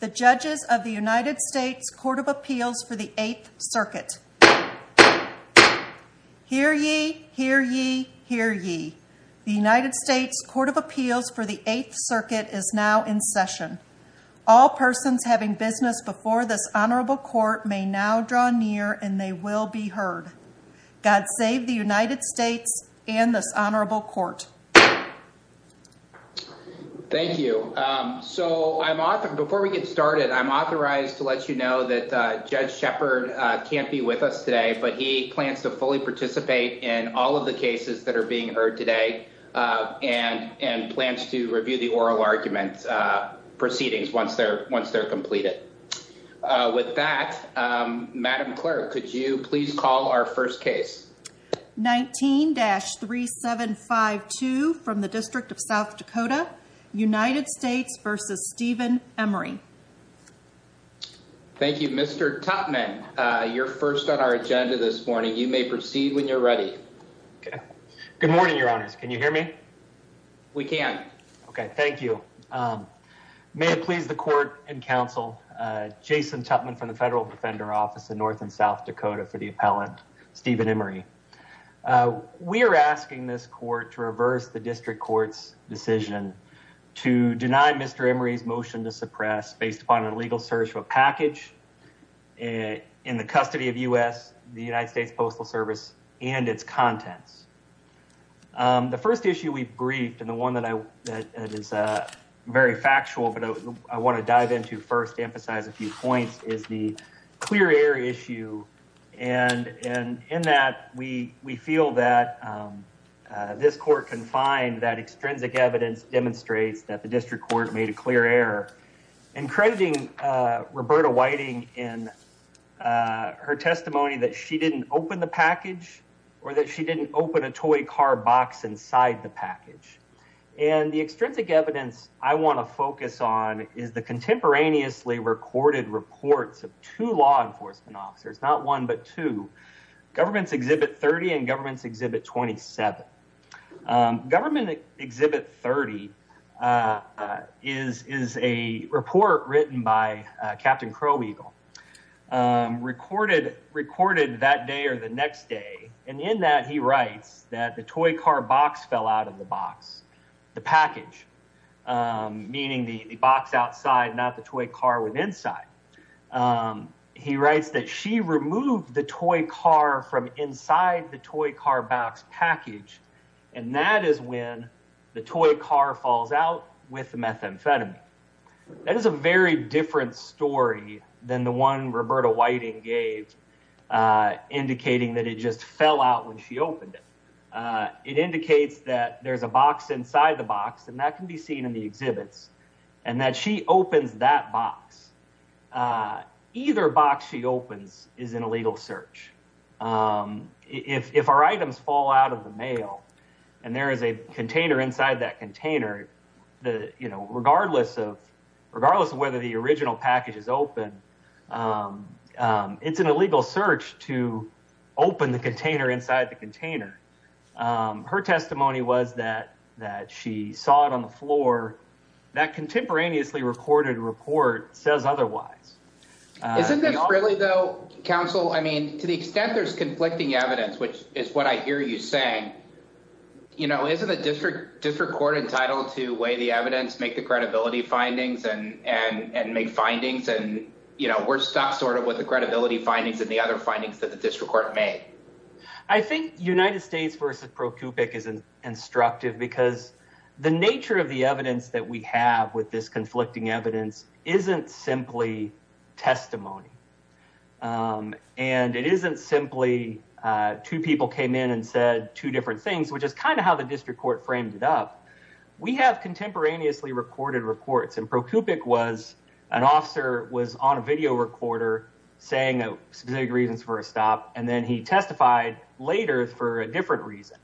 The Judges of the United States Court of Appeals for the Eighth Circuit Hear ye, hear ye, hear ye. The United States Court of Appeals for the Eighth Circuit is now in session. All persons having business before this honorable court may now draw near and they will be heard. God save the United States and this honorable court. Thank you. So I'm off. And before we get started, I'm authorized to let you know that Judge Shepard can't be with us today, but he plans to fully participate in all of the cases that are being heard today and and plans to review the oral argument proceedings once they're once they're completed with that, Madam Clerk, could you please call our first case? 19-3752 from the District of South Dakota, United States v. Steven Emery. Thank you, Mr. Tupman. You're first on our agenda this morning. You may proceed when you're ready. Good morning, Your Honors. Can you hear me? We can. Okay, thank you. May it please the court and counsel, Jason Tupman from the Federal Defender Office in North and South Dakota for the appellant, Steven Emery. We are asking this court to reverse the district court's decision to deny Mr. Emery's motion to suppress based upon an illegal search of a package in the custody of U.S., the United States Postal Service, and its contents. The first issue we've briefed and the one that I that is a very factual, but I want to dive into first emphasize a few points is the clear air issue and and in that we we feel that this court can find that extrinsic evidence demonstrates that the district court made a clear error in crediting Roberta Whiting in her testimony that she didn't open the package or that she didn't open the package. She didn't open a toy car box inside the package and the extrinsic evidence I want to focus on is the contemporaneously recorded reports of two law enforcement officers, not one but two, Governments Exhibit 30 and Governments Exhibit 27. Government Exhibit 30 is is a report written by Captain Crow Eagle recorded, recorded that day or the next day, and in that he writes that the toy car box fell out of the box, the package, meaning the box outside, not the toy car with inside. He writes that she removed the toy car from inside the toy car box package, and that is when the toy car falls out with methamphetamine. That is a very different story than the one Roberta Whiting gave indicating that it just fell out when she opened it. It indicates that there's a box inside the box and that can be seen in the exhibits and that she opens that box. Either box she opens is an illegal search. If our items fall out of the mail and there is a container inside that container, regardless of whether the original package is open, it's an illegal search to open the container inside the container. Her testimony was that she saw it on the floor. That contemporaneously recorded report says otherwise. Isn't this really, though, counsel? I mean, to the extent there's conflicting evidence, which is what I hear you saying, you know, isn't the district district court entitled to weigh the evidence, make the credibility findings and and and make findings? And, you know, we're stuck sort of with the credibility findings and the other findings that the district court made. I think United States versus ProCupic is instructive because the nature of the evidence that we have with this conflicting evidence isn't simply testimony. And it isn't simply two people came in and said two different things, which is kind of how the district court framed it up. We have contemporaneously recorded reports and ProCupic was an officer was on a video recorder saying specific reasons for a stop. And then he testified later for a different reason.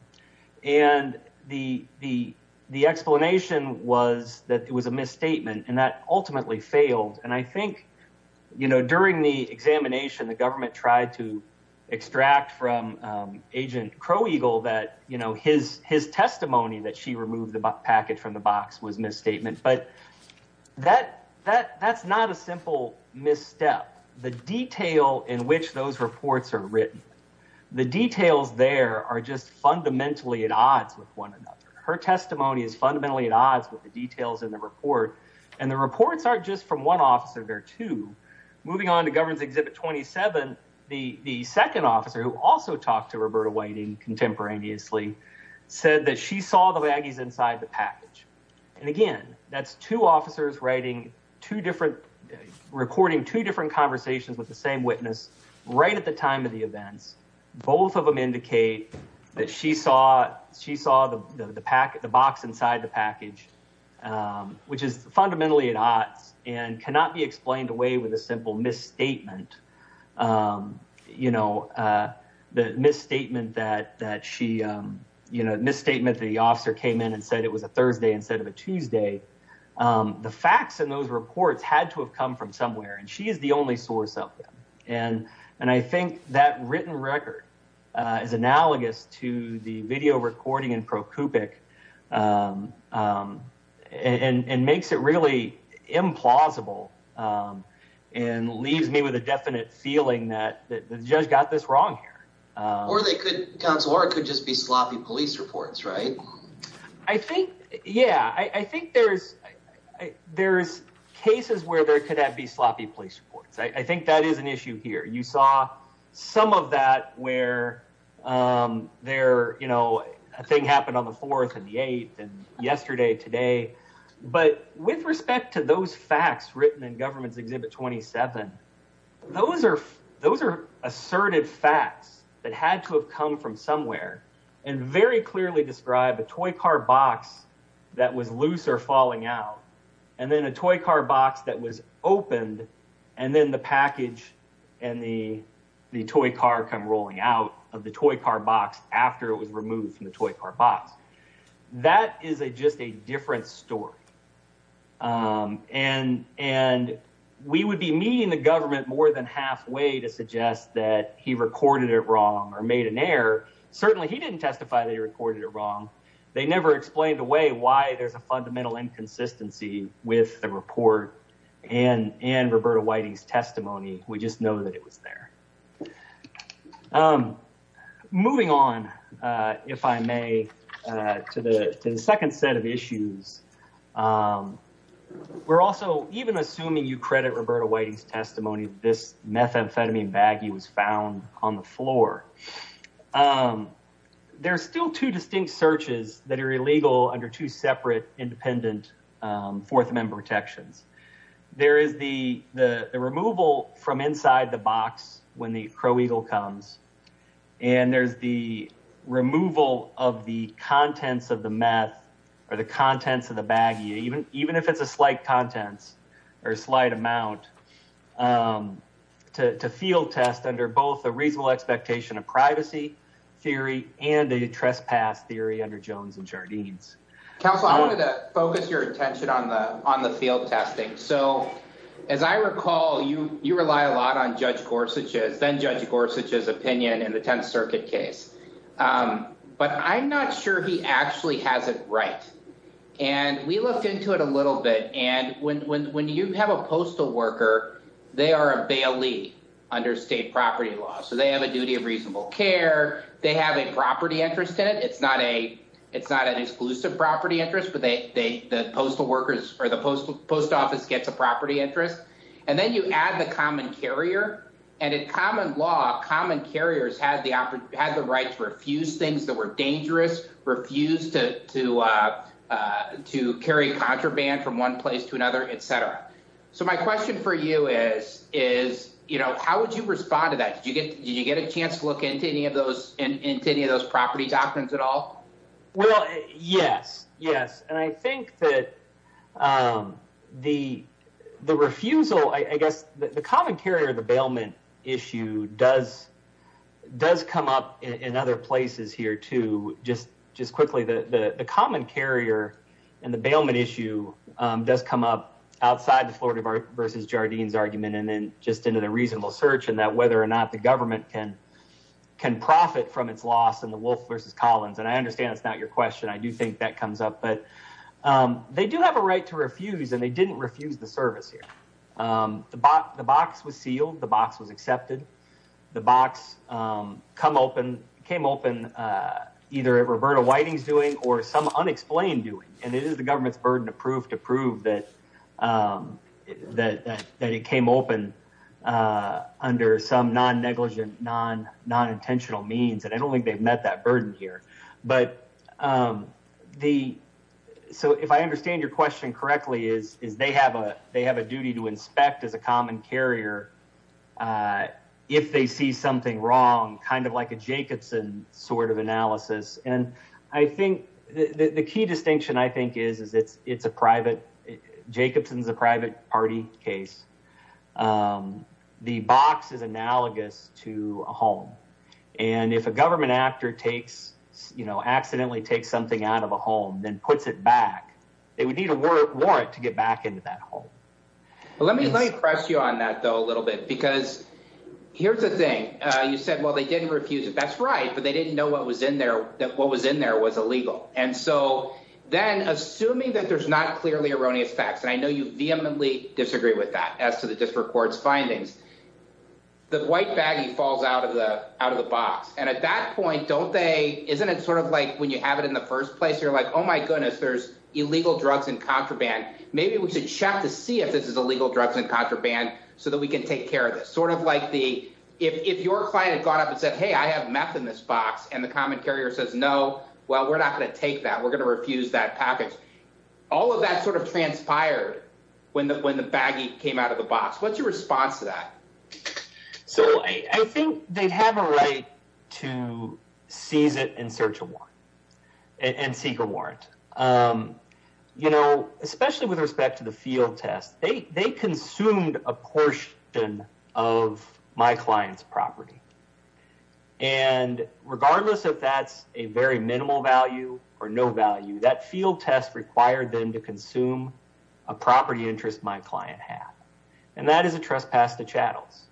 And the the the explanation was that it was a misstatement and that ultimately failed. And I think, you know, during the examination, the government tried to extract from Agent Crow Eagle that, you know, his his testimony that she removed the package from the box was misstatement. But that that that's not a simple misstep. The detail in which those reports are written, the details there are just fundamentally at odds with one another. Her testimony is fundamentally at odds with the details in the report. And the reports aren't just from one officer. There are two. Moving on to Governor's Exhibit 27. The second officer who also talked to Roberta Whiting contemporaneously said that she saw the baggies inside the package. And again, that's two officers writing two different recording, two different conversations with the same witness right at the time of the events. Both of them indicate that she saw she saw the pack, the box inside the package, which is fundamentally at odds and cannot be explained away with a simple misstatement. You know, the misstatement that that she, you know, misstatement, the officer came in and said it was a Thursday instead of a Tuesday. The facts in those reports had to have come from somewhere. And she is the only source. And I think that written record is analogous to the video recording in ProCupic and makes it really implausible and leaves me with a definite feeling that the judge got this wrong. Or they could, or it could just be sloppy police reports, right? I think, yeah, I think there's there's cases where there could be sloppy police reports. I think that is an issue here. You saw some of that where there, you know, a thing happened on the 4th and the 8th and yesterday, today. But with respect to those facts written in government's Exhibit 27, those are those are assertive facts that had to have come from somewhere and very clearly describe a toy car box that was loose or falling out. And then a toy car box that was opened. And then the package and the toy car come rolling out of the toy car box after it was removed from the toy car box. That is just a different story. And we would be meeting the government more than halfway to suggest that he recorded it wrong or made an error. Certainly, he didn't testify that he recorded it wrong. They never explained away why there's a fundamental inconsistency with the report and Roberta Whitey's testimony. We just know that it was there. I'm moving on, if I may, to the second set of issues. We're also even assuming you credit Roberta Whitey's testimony. This methamphetamine baggy was found on the floor. There are still two distinct searches that are illegal under two separate independent Fourth Amendment protections. There is the removal from inside the box when the Crow Eagle comes. And there's the removal of the contents of the meth or the contents of the baggy, even if it's a slight contents or a slight amount, to field test under both the reasonable expectation of privacy theory and the trespass theory under Jones and Jardines. Counsel, I wanted to focus your attention on the field testing. So, as I recall, you rely a lot on Judge Gorsuch's, then Judge Gorsuch's, opinion in the Tenth Circuit case. But I'm not sure he actually has it right. And we looked into it a little bit. And when you have a postal worker, they are a bailee under state property law. So they have a duty of reasonable care. They have a property interest in it. It's not an exclusive property interest, but the postal workers or the post office gets a property interest. And then you add the common carrier. And in common law, common carriers have the right to refuse things that were dangerous, refuse to carry contraband from one place to another, et cetera. So my question for you is, you know, how would you respond to that? Did you get a chance to look into any of those, into any of those property doctrines at all? Well, yes, yes. And I think that the refusal, I guess, the common carrier of the bailment issue does come up in other places here, too. Just quickly, the common carrier and the bailment issue does come up outside the Florida versus Jardines argument. And then just into the reasonable search and that whether or not the government can profit from its loss in the Wolf versus Collins. And I understand it's not your question. I do think that comes up, but they do have a right to refuse and they didn't refuse the service here. The box was sealed. The box was accepted. The box came open either at Roberta Whiting's doing or some unexplained doing. And it is the government's burden to prove that it came open under some non-negligent, non-intentional means. And I don't think they've met that burden here. But the so if I understand your question correctly is, is they have a they have a duty to inspect as a common carrier if they see something wrong. Kind of like a Jacobson sort of analysis. And I think the key distinction, I think, is, is it's it's a private Jacobson's, a private party case. The box is analogous to a home. And if a government actor takes, you know, accidentally take something out of a home, then puts it back, they would need a warrant to get back into that home. Let me lay pressure on that, though, a little bit, because here's the thing. You said, well, they didn't refuse it. That's right. But they didn't know what was in there, that what was in there was illegal. And so then assuming that there's not clearly erroneous facts. And I know you vehemently disagree with that as to the district court's findings. The white baggy falls out of the out of the box. And at that point, don't they? Isn't it sort of like when you have it in the first place? You're like, oh, my goodness, there's illegal drugs and contraband. Maybe we should check to see if this is illegal drugs and contraband so that we can take care of this. Sort of like the if your client had gone up and said, hey, I have meth in this box. And the common carrier says, no, well, we're not going to take that. We're going to refuse that package. All of that sort of transpired when the baggy came out of the box. What's your response to that? So I think they'd have a right to seize it in search of one and seek a warrant, you know, especially with respect to the field test. They consumed a portion of my client's property. And regardless of that's a very minimal value or no value, that field test required them to consume a property interest. My client had. And that is a trespass to chattels.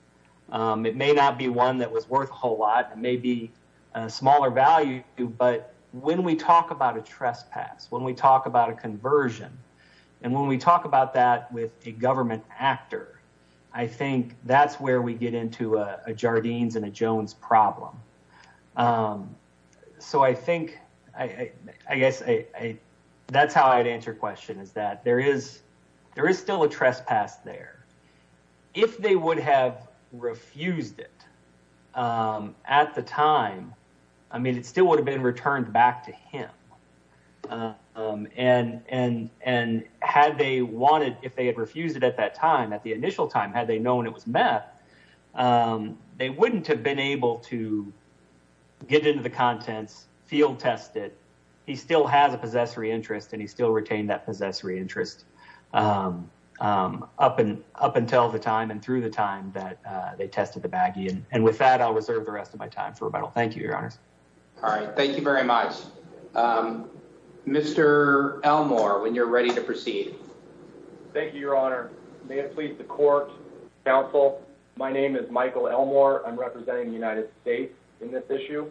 It may not be one that was worth a whole lot, maybe a smaller value. But when we talk about a trespass, when we talk about a conversion and when we talk about that with a government actor, I think that's where we get into a Jardines and a Jones problem. So I think I guess I that's how I'd answer question is that there is there is still a trespass there. If they would have refused it at the time, I mean, it still would have been returned back to him. And and and had they wanted if they had refused it at that time, at the initial time, had they known it was met, they wouldn't have been able to get into the contents field tested. He still has a possessory interest and he still retained that possessory interest up and up until the time and through the time that they tested the baggy. And with that, I'll reserve the rest of my time for rebuttal. Thank you, Your Honor. All right. Thank you very much, Mr. Elmore. When you're ready to proceed. Thank you, Your Honor. May it please the court. Counsel, my name is Michael Elmore. I'm representing the United States in this issue.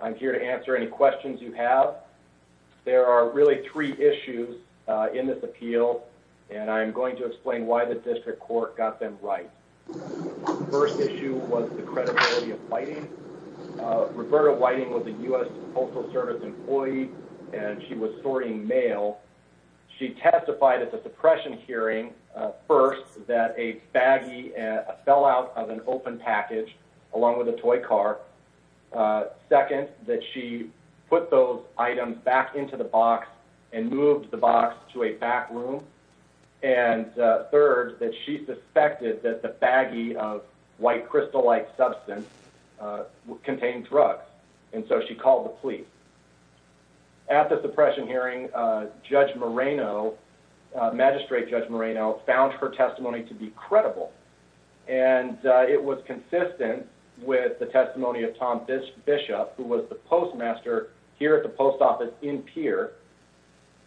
I'm here to answer any questions you have. There are really three issues in this appeal, and I'm going to explain why the district court got them right. First issue was the credibility of Whiting. Roberta Whiting was a U.S. Postal Service employee and she was sorting mail. She testified at the suppression hearing first that a baggy fell out of an open package along with a toy car. Second, that she put those items back into the box and moved the box to a back room. And third, that she suspected that the baggy of white crystal-like substance contained drugs. And so she called the police. At the suppression hearing, Judge Moreno, Magistrate Judge Moreno, found her testimony to be credible. And it was consistent with the testimony of Tom Bishop, who was the postmaster here at the post office in Pierre.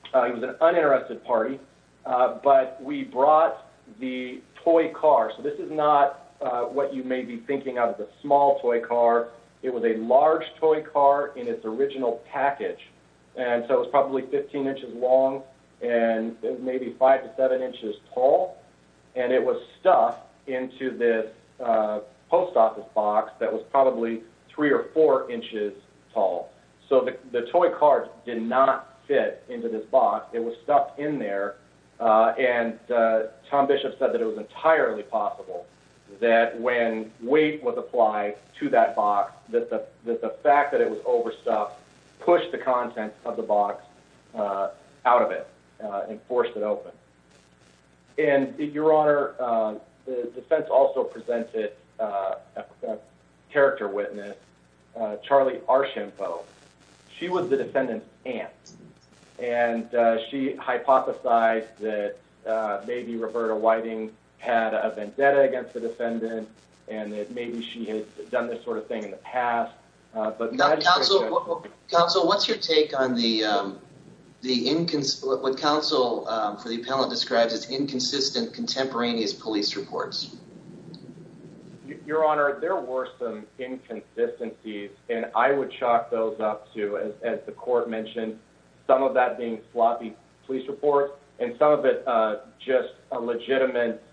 He was an uninterested party. But we brought the toy car. So this is not what you may be thinking of as a small toy car. It was a large toy car in its original package. And so it was probably 15 inches long and maybe 5 to 7 inches tall. And it was stuck into this post office box that was probably 3 or 4 inches tall. So the toy car did not fit into this box. It was stuck in there. And Tom Bishop said that it was entirely possible that when weight was applied to that box, that the fact that it was overstuffed pushed the content of the box out of it and forced it open. And, Your Honor, the defense also presented a character witness, Charlie Archambeau. She was the defendant's aunt. And she hypothesized that maybe Roberta Whiting had a vendetta against the defendant and that maybe she had done this sort of thing in the past. Counsel, what's your take on what counsel for the appellant describes as inconsistent contemporaneous police reports? Your Honor, there were some inconsistencies. And I would chalk those up to, as the court mentioned, some of that being sloppy police reports and some of it just a legitimate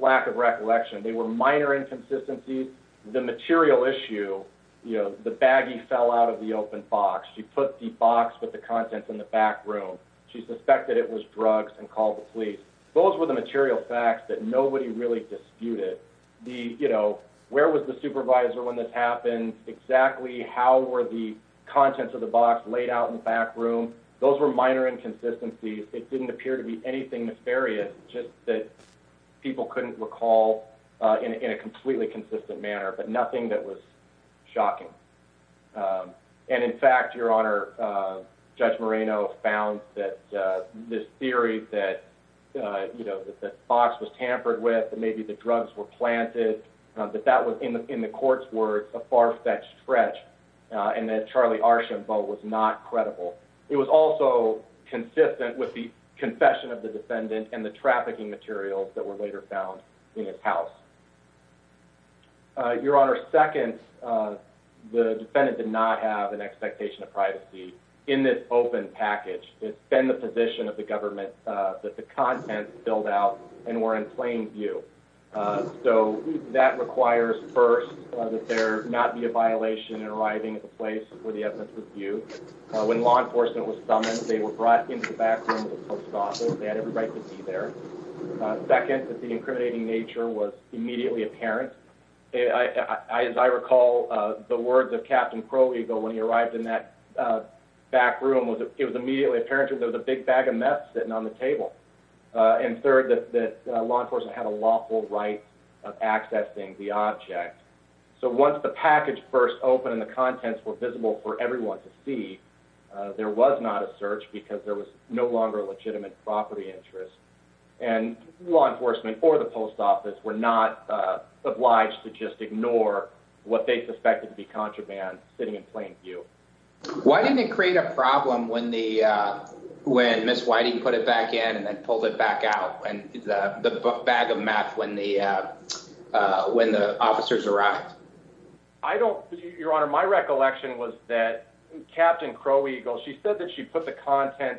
lack of recollection. They were minor inconsistencies. The material issue, the baggie fell out of the open box. She put the box with the contents in the back room. She suspected it was drugs and called the police. Those were the material facts that nobody really disputed. Where was the supervisor when this happened? Exactly how were the contents of the box laid out in the back room? Those were minor inconsistencies. It didn't appear to be anything nefarious, just that people couldn't recall in a completely consistent manner, but nothing that was shocking. And, in fact, Your Honor, Judge Moreno found that this theory that the box was tampered with and maybe the drugs were planted, that that was, in the court's words, a far-fetched stretch and that Charlie Archambault was not credible. It was also consistent with the confession of the defendant and the trafficking materials that were later found in his house. Your Honor, second, the defendant did not have an expectation of privacy in this open package. It's been the position of the government that the contents spilled out and were in plain view. So that requires, first, that there not be a violation in arriving at the place where the evidence was viewed. When law enforcement was summoned, they were brought into the back room of the post office. They had every right to be there. Second, that the incriminating nature was immediately apparent. As I recall the words of Captain Crow Eagle when he arrived in that back room, it was immediately apparent that there was a big bag of meth sitting on the table. And third, that law enforcement had a lawful right of accessing the object. So once the package burst open and the contents were visible for everyone to see, there was not a search because there was no longer a legitimate property interest. And law enforcement or the post office were not obliged to just ignore what they suspected to be contraband sitting in plain view. Why didn't it create a problem when Ms. Whiting put it back in and then pulled it back out, the bag of meth when the officers arrived? Your Honor, my recollection was that Captain Crow Eagle, she said that she put the content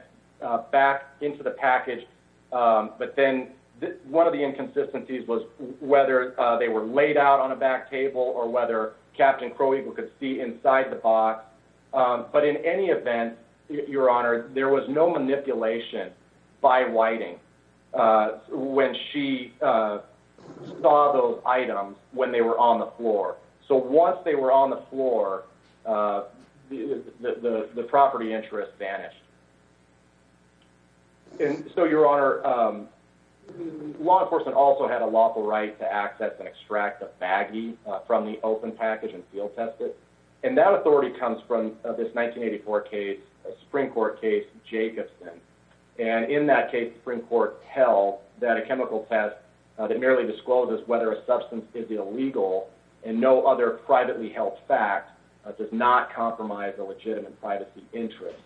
back into the package, but then one of the inconsistencies was whether they were laid out on a back table or whether Captain Crow Eagle could see inside the box. But in any event, Your Honor, there was no manipulation by Whiting when she saw those items when they were on the floor. So once they were on the floor, the property interest vanished. And so, Your Honor, law enforcement also had a lawful right to access and extract the baggie from the open package and field test it. And that authority comes from this 1984 case, a Supreme Court case, Jacobson. And in that case, the Supreme Court held that a chemical test that merely discloses whether a substance is illegal and no other privately held fact does not compromise a legitimate privacy interest.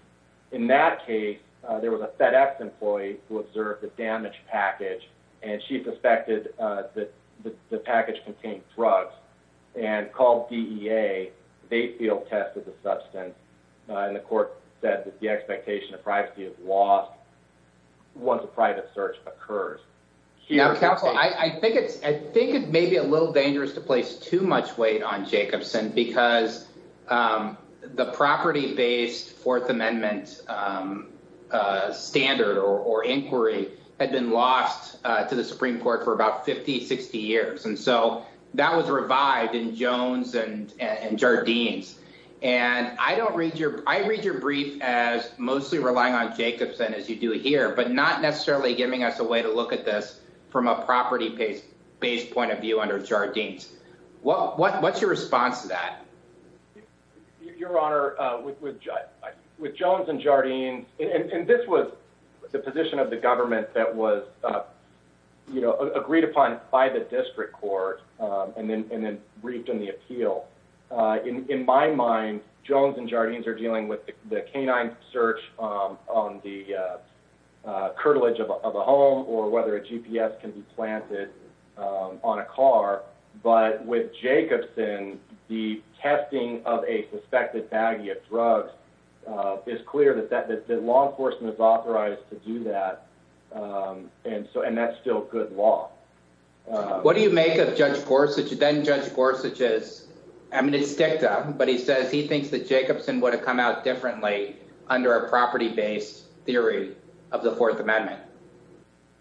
In that case, there was a FedEx employee who observed the damaged package and she suspected that the package contained drugs and called DEA. They field tested the substance and the court said that the expectation of privacy is lost once a private search occurs. Now, counsel, I think it may be a little dangerous to place too much weight on Jacobson because the property-based Fourth Amendment standard or inquiry had been lost to the Supreme Court for about 50, 60 years. And so that was revived in Jones and Jardines. And I read your brief as mostly relying on Jacobson, as you do here, but not necessarily giving us a way to look at this from a property-based point of view under Jardines. What's your response to that? Your Honor, with Jones and Jardines, and this was the position of the government that was agreed upon by the district court and then briefed in the appeal, in my mind, Jones and Jardines are dealing with the canine search on the curtilage of a home or whether a GPS can be planted on a car. But with Jacobson, the testing of a suspected baggie of drugs, it's clear that law enforcement is authorized to do that, and that's still good law. What do you make of Judge Gorsuch, then Judge Gorsuch's, I mean, it's ticked off, but he says he thinks that Jacobson would have come out differently under a property-based theory of the Fourth Amendment.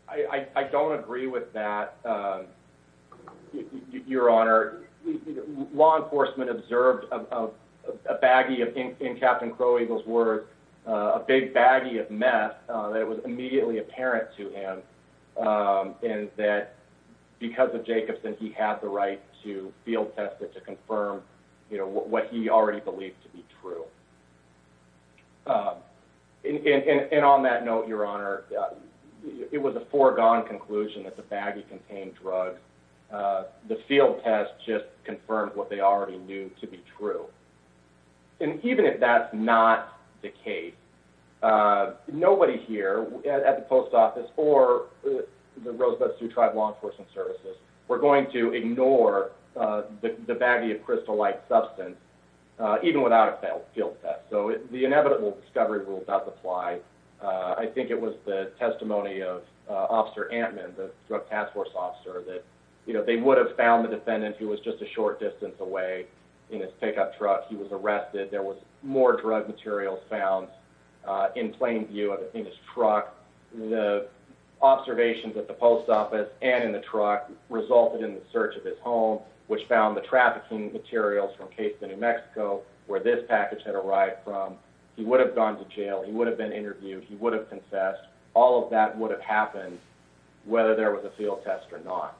I don't agree with that, Your Honor. Law enforcement observed a baggie, in Captain Crow Eagle's words, a big baggie of meth that was immediately apparent to him, and that because of Jacobson, he had the right to field test it to confirm what he already believed to be true. And on that note, Your Honor, it was a foregone conclusion that the baggie contained drugs. The field test just confirmed what they already knew to be true. And even if that's not the case, nobody here at the Post Office or the Rosebud Sioux Tribe Law Enforcement Services were going to ignore the baggie of crystal-like substance, even without a field test. So the inevitable discovery rule does apply. I think it was the testimony of Officer Antman, the drug task force officer, that they would have found the defendant who was just a short distance away in his pickup truck. He was arrested. There was more drug materials found in plain view in his truck. The observations at the Post Office and in the truck resulted in the search of his home, which found the trafficking materials from Cason, New Mexico, where this package had arrived from. He would have gone to jail. He would have been interviewed. He would have confessed. All of that would have happened whether there was a field test or not.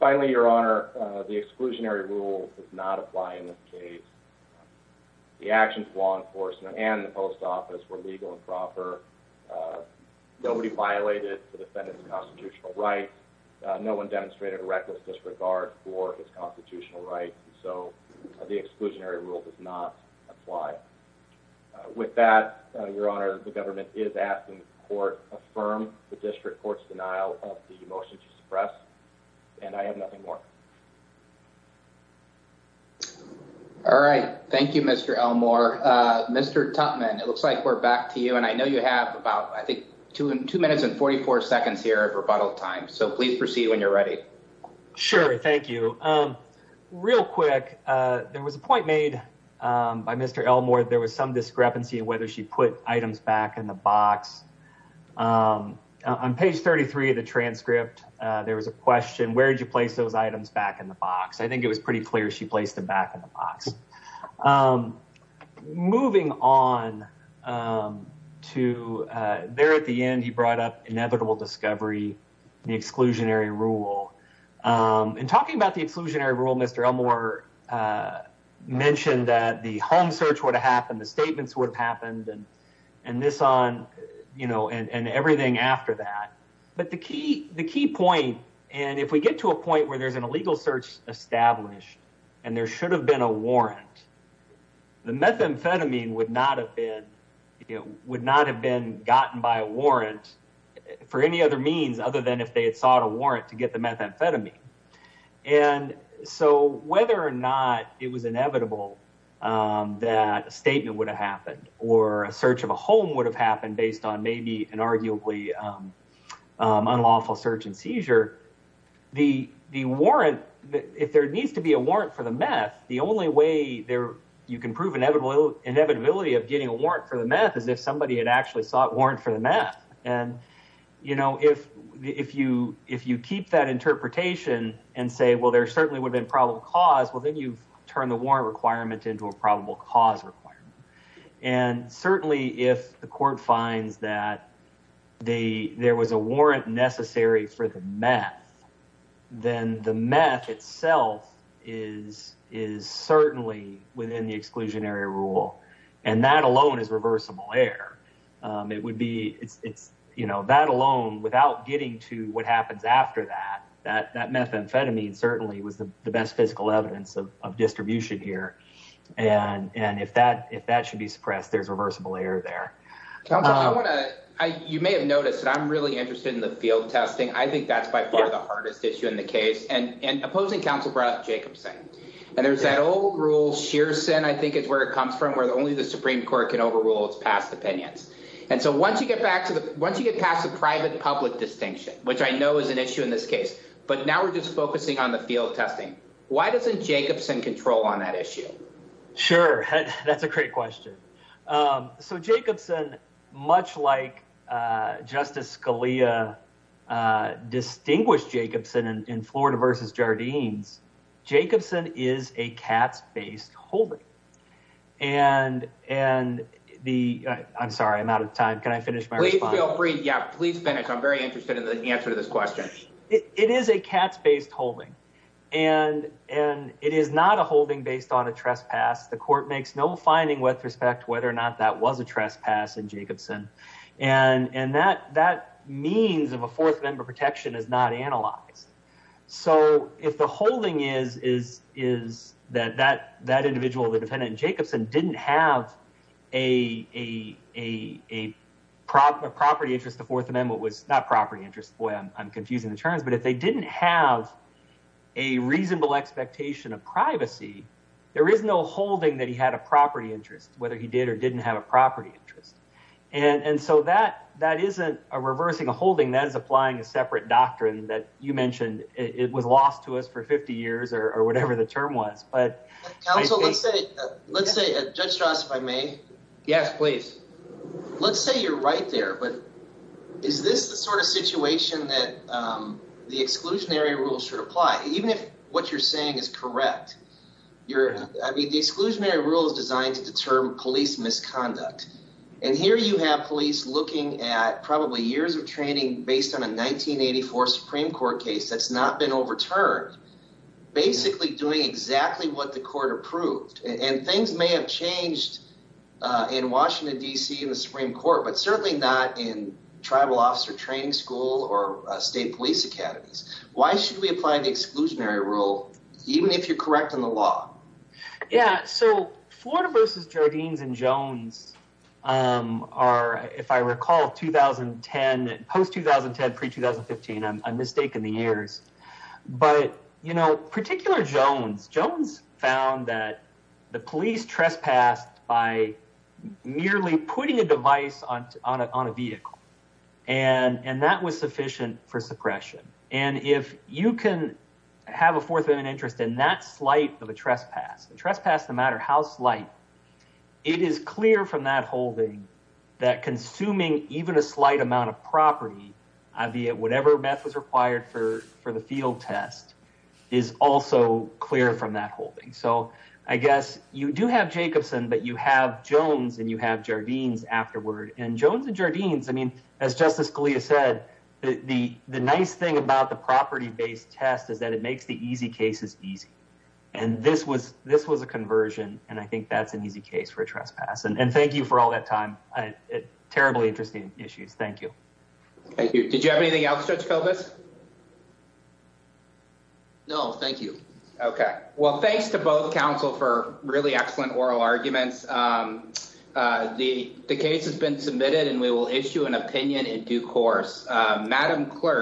Finally, Your Honor, the exclusionary rule does not apply in this case. The actions of law enforcement and the Post Office were legal and proper. Nobody violated the defendant's constitutional rights. No one demonstrated reckless disregard for his constitutional rights. So the exclusionary rule does not apply. With that, Your Honor, the government is asking the court to affirm the district court's denial of the motion to suppress, and I have nothing more. All right. Thank you, Mr. Elmore. Mr. Tutman, it looks like we're back to you, and I know you have about, I think, two minutes and 44 seconds here of rebuttal time, so please proceed when you're ready. Sure. Thank you. Real quick, there was a point made by Mr. Elmore. There was some discrepancy in whether she put items back in the box. On page 33 of the transcript, there was a question, where did you place those items back in the box? I think it was pretty clear she placed them back in the box. Moving on to there at the end, he brought up inevitable discovery, the exclusionary rule. In talking about the exclusionary rule, Mr. Elmore mentioned that the home search would have happened, the statements would have happened, and this on, you know, and everything after that. But the key point, and if we get to a point where there's an illegal search established and there should have been a warrant, the methamphetamine would not have been gotten by a warrant for any other means other than if they had sought a warrant to get the methamphetamine. And so whether or not it was inevitable that a statement would have happened or a search of a home would have happened based on maybe an arguably unlawful search and seizure, the warrant, if there needs to be a warrant for the meth, the only way you can prove inevitability of getting a warrant for the meth is if somebody had actually sought warrant for the meth. And, you know, if you keep that interpretation and say, well, there certainly would have been probable cause, well then you've turned the warrant requirement into a probable cause requirement. And certainly if the court finds that there was a warrant necessary for the meth, then the meth itself is certainly within the exclusionary rule. And that alone is reversible error. It would be it's, it's, you know, that alone without getting to what happens after that, that that methamphetamine certainly was the best physical evidence of distribution here. And, and if that, if that should be suppressed, there's reversible error there. You may have noticed that I'm really interested in the field testing. I think that's by far the hardest issue in the case and, and opposing counsel brought up Jacobson and there's that old rule. Shearson, I think is where it comes from, where only the Supreme court can overrule its past opinions. And so once you get back to the, once you get past the private public distinction, which I know is an issue in this case, but now we're just focusing on the field testing. Why doesn't Jacobson control on that issue? Sure. That's a great question. So Jacobson much like justice Scalia distinguished Jacobson in Florida versus Jardines, Jacobson is a cat's based holding and, and the I'm sorry, I'm out of time. Can I finish my response? Please finish. I'm very interested in the answer to this question. It is a cat's based holding and, and it is not a holding based on a trespass. The court makes no finding with respect to whether or not that was a trespass in Jacobson. And, and that, that means of a fourth member protection is not analyzed. So if the holding is, is, is that, that, that individual, the defendant Jacobson didn't have a, a, a, a prop, a property interest, the fourth amendment was not property interest. Boy, I'm confusing the terms, but if they didn't have a reasonable expectation of privacy, there is no holding that he had a property interest, whether he did or didn't have a property interest. And, and so that, that isn't a reversing a holding that is applying a separate doctrine that you mentioned it was lost to us for 50 years or whatever the term was, but let's say, let's say judge Strauss, if I may. Yes, please. Let's say you're right there, but is this the sort of situation that the exclusionary rules should apply? Even if what you're saying is correct, you're, I mean, the exclusionary rule is designed to determine police misconduct. And here you have police looking at probably years of training based on a 1984 Supreme court case. That's not been overturned, basically doing exactly what the court approved. And things may have changed in Washington, DC and the Supreme court, but certainly not in tribal officer training school or a state police academies. Why should we apply the exclusionary rule? Even if you're correct in the law. Yeah. So Florida versus Jardines and Jones are, if I recall 2010 post 2010, pre 2015, I'm a mistake in the years, but you know, particular Jones, Jones found that the police trespassed by nearly putting a device on, on a, on a vehicle. And that was sufficient for suppression. And if you can have a fourth of an interest in that slight of a trespass trespass, no matter how slight it is clear from that holding, that consuming even a slight amount of property, I'd be at whatever meth was required for, for the field test is also clear from that holding. So I guess you do have Jacobson, but you have Jones and you have Jardines afterward and Jones and Jardines. I mean, as justice Scalia said, the, the nice thing about the property based test is that it makes the easy cases easy. And this was, this was a conversion. And I think that's an easy case for a trespass. And thank you for all that time. I terribly interesting issues. Thank you. Thank you. Did you have anything else? No, thank you. Okay. Well, thanks to both council for really excellent oral arguments. The, the case has been submitted and we will issue an opinion in due course, madam clerk.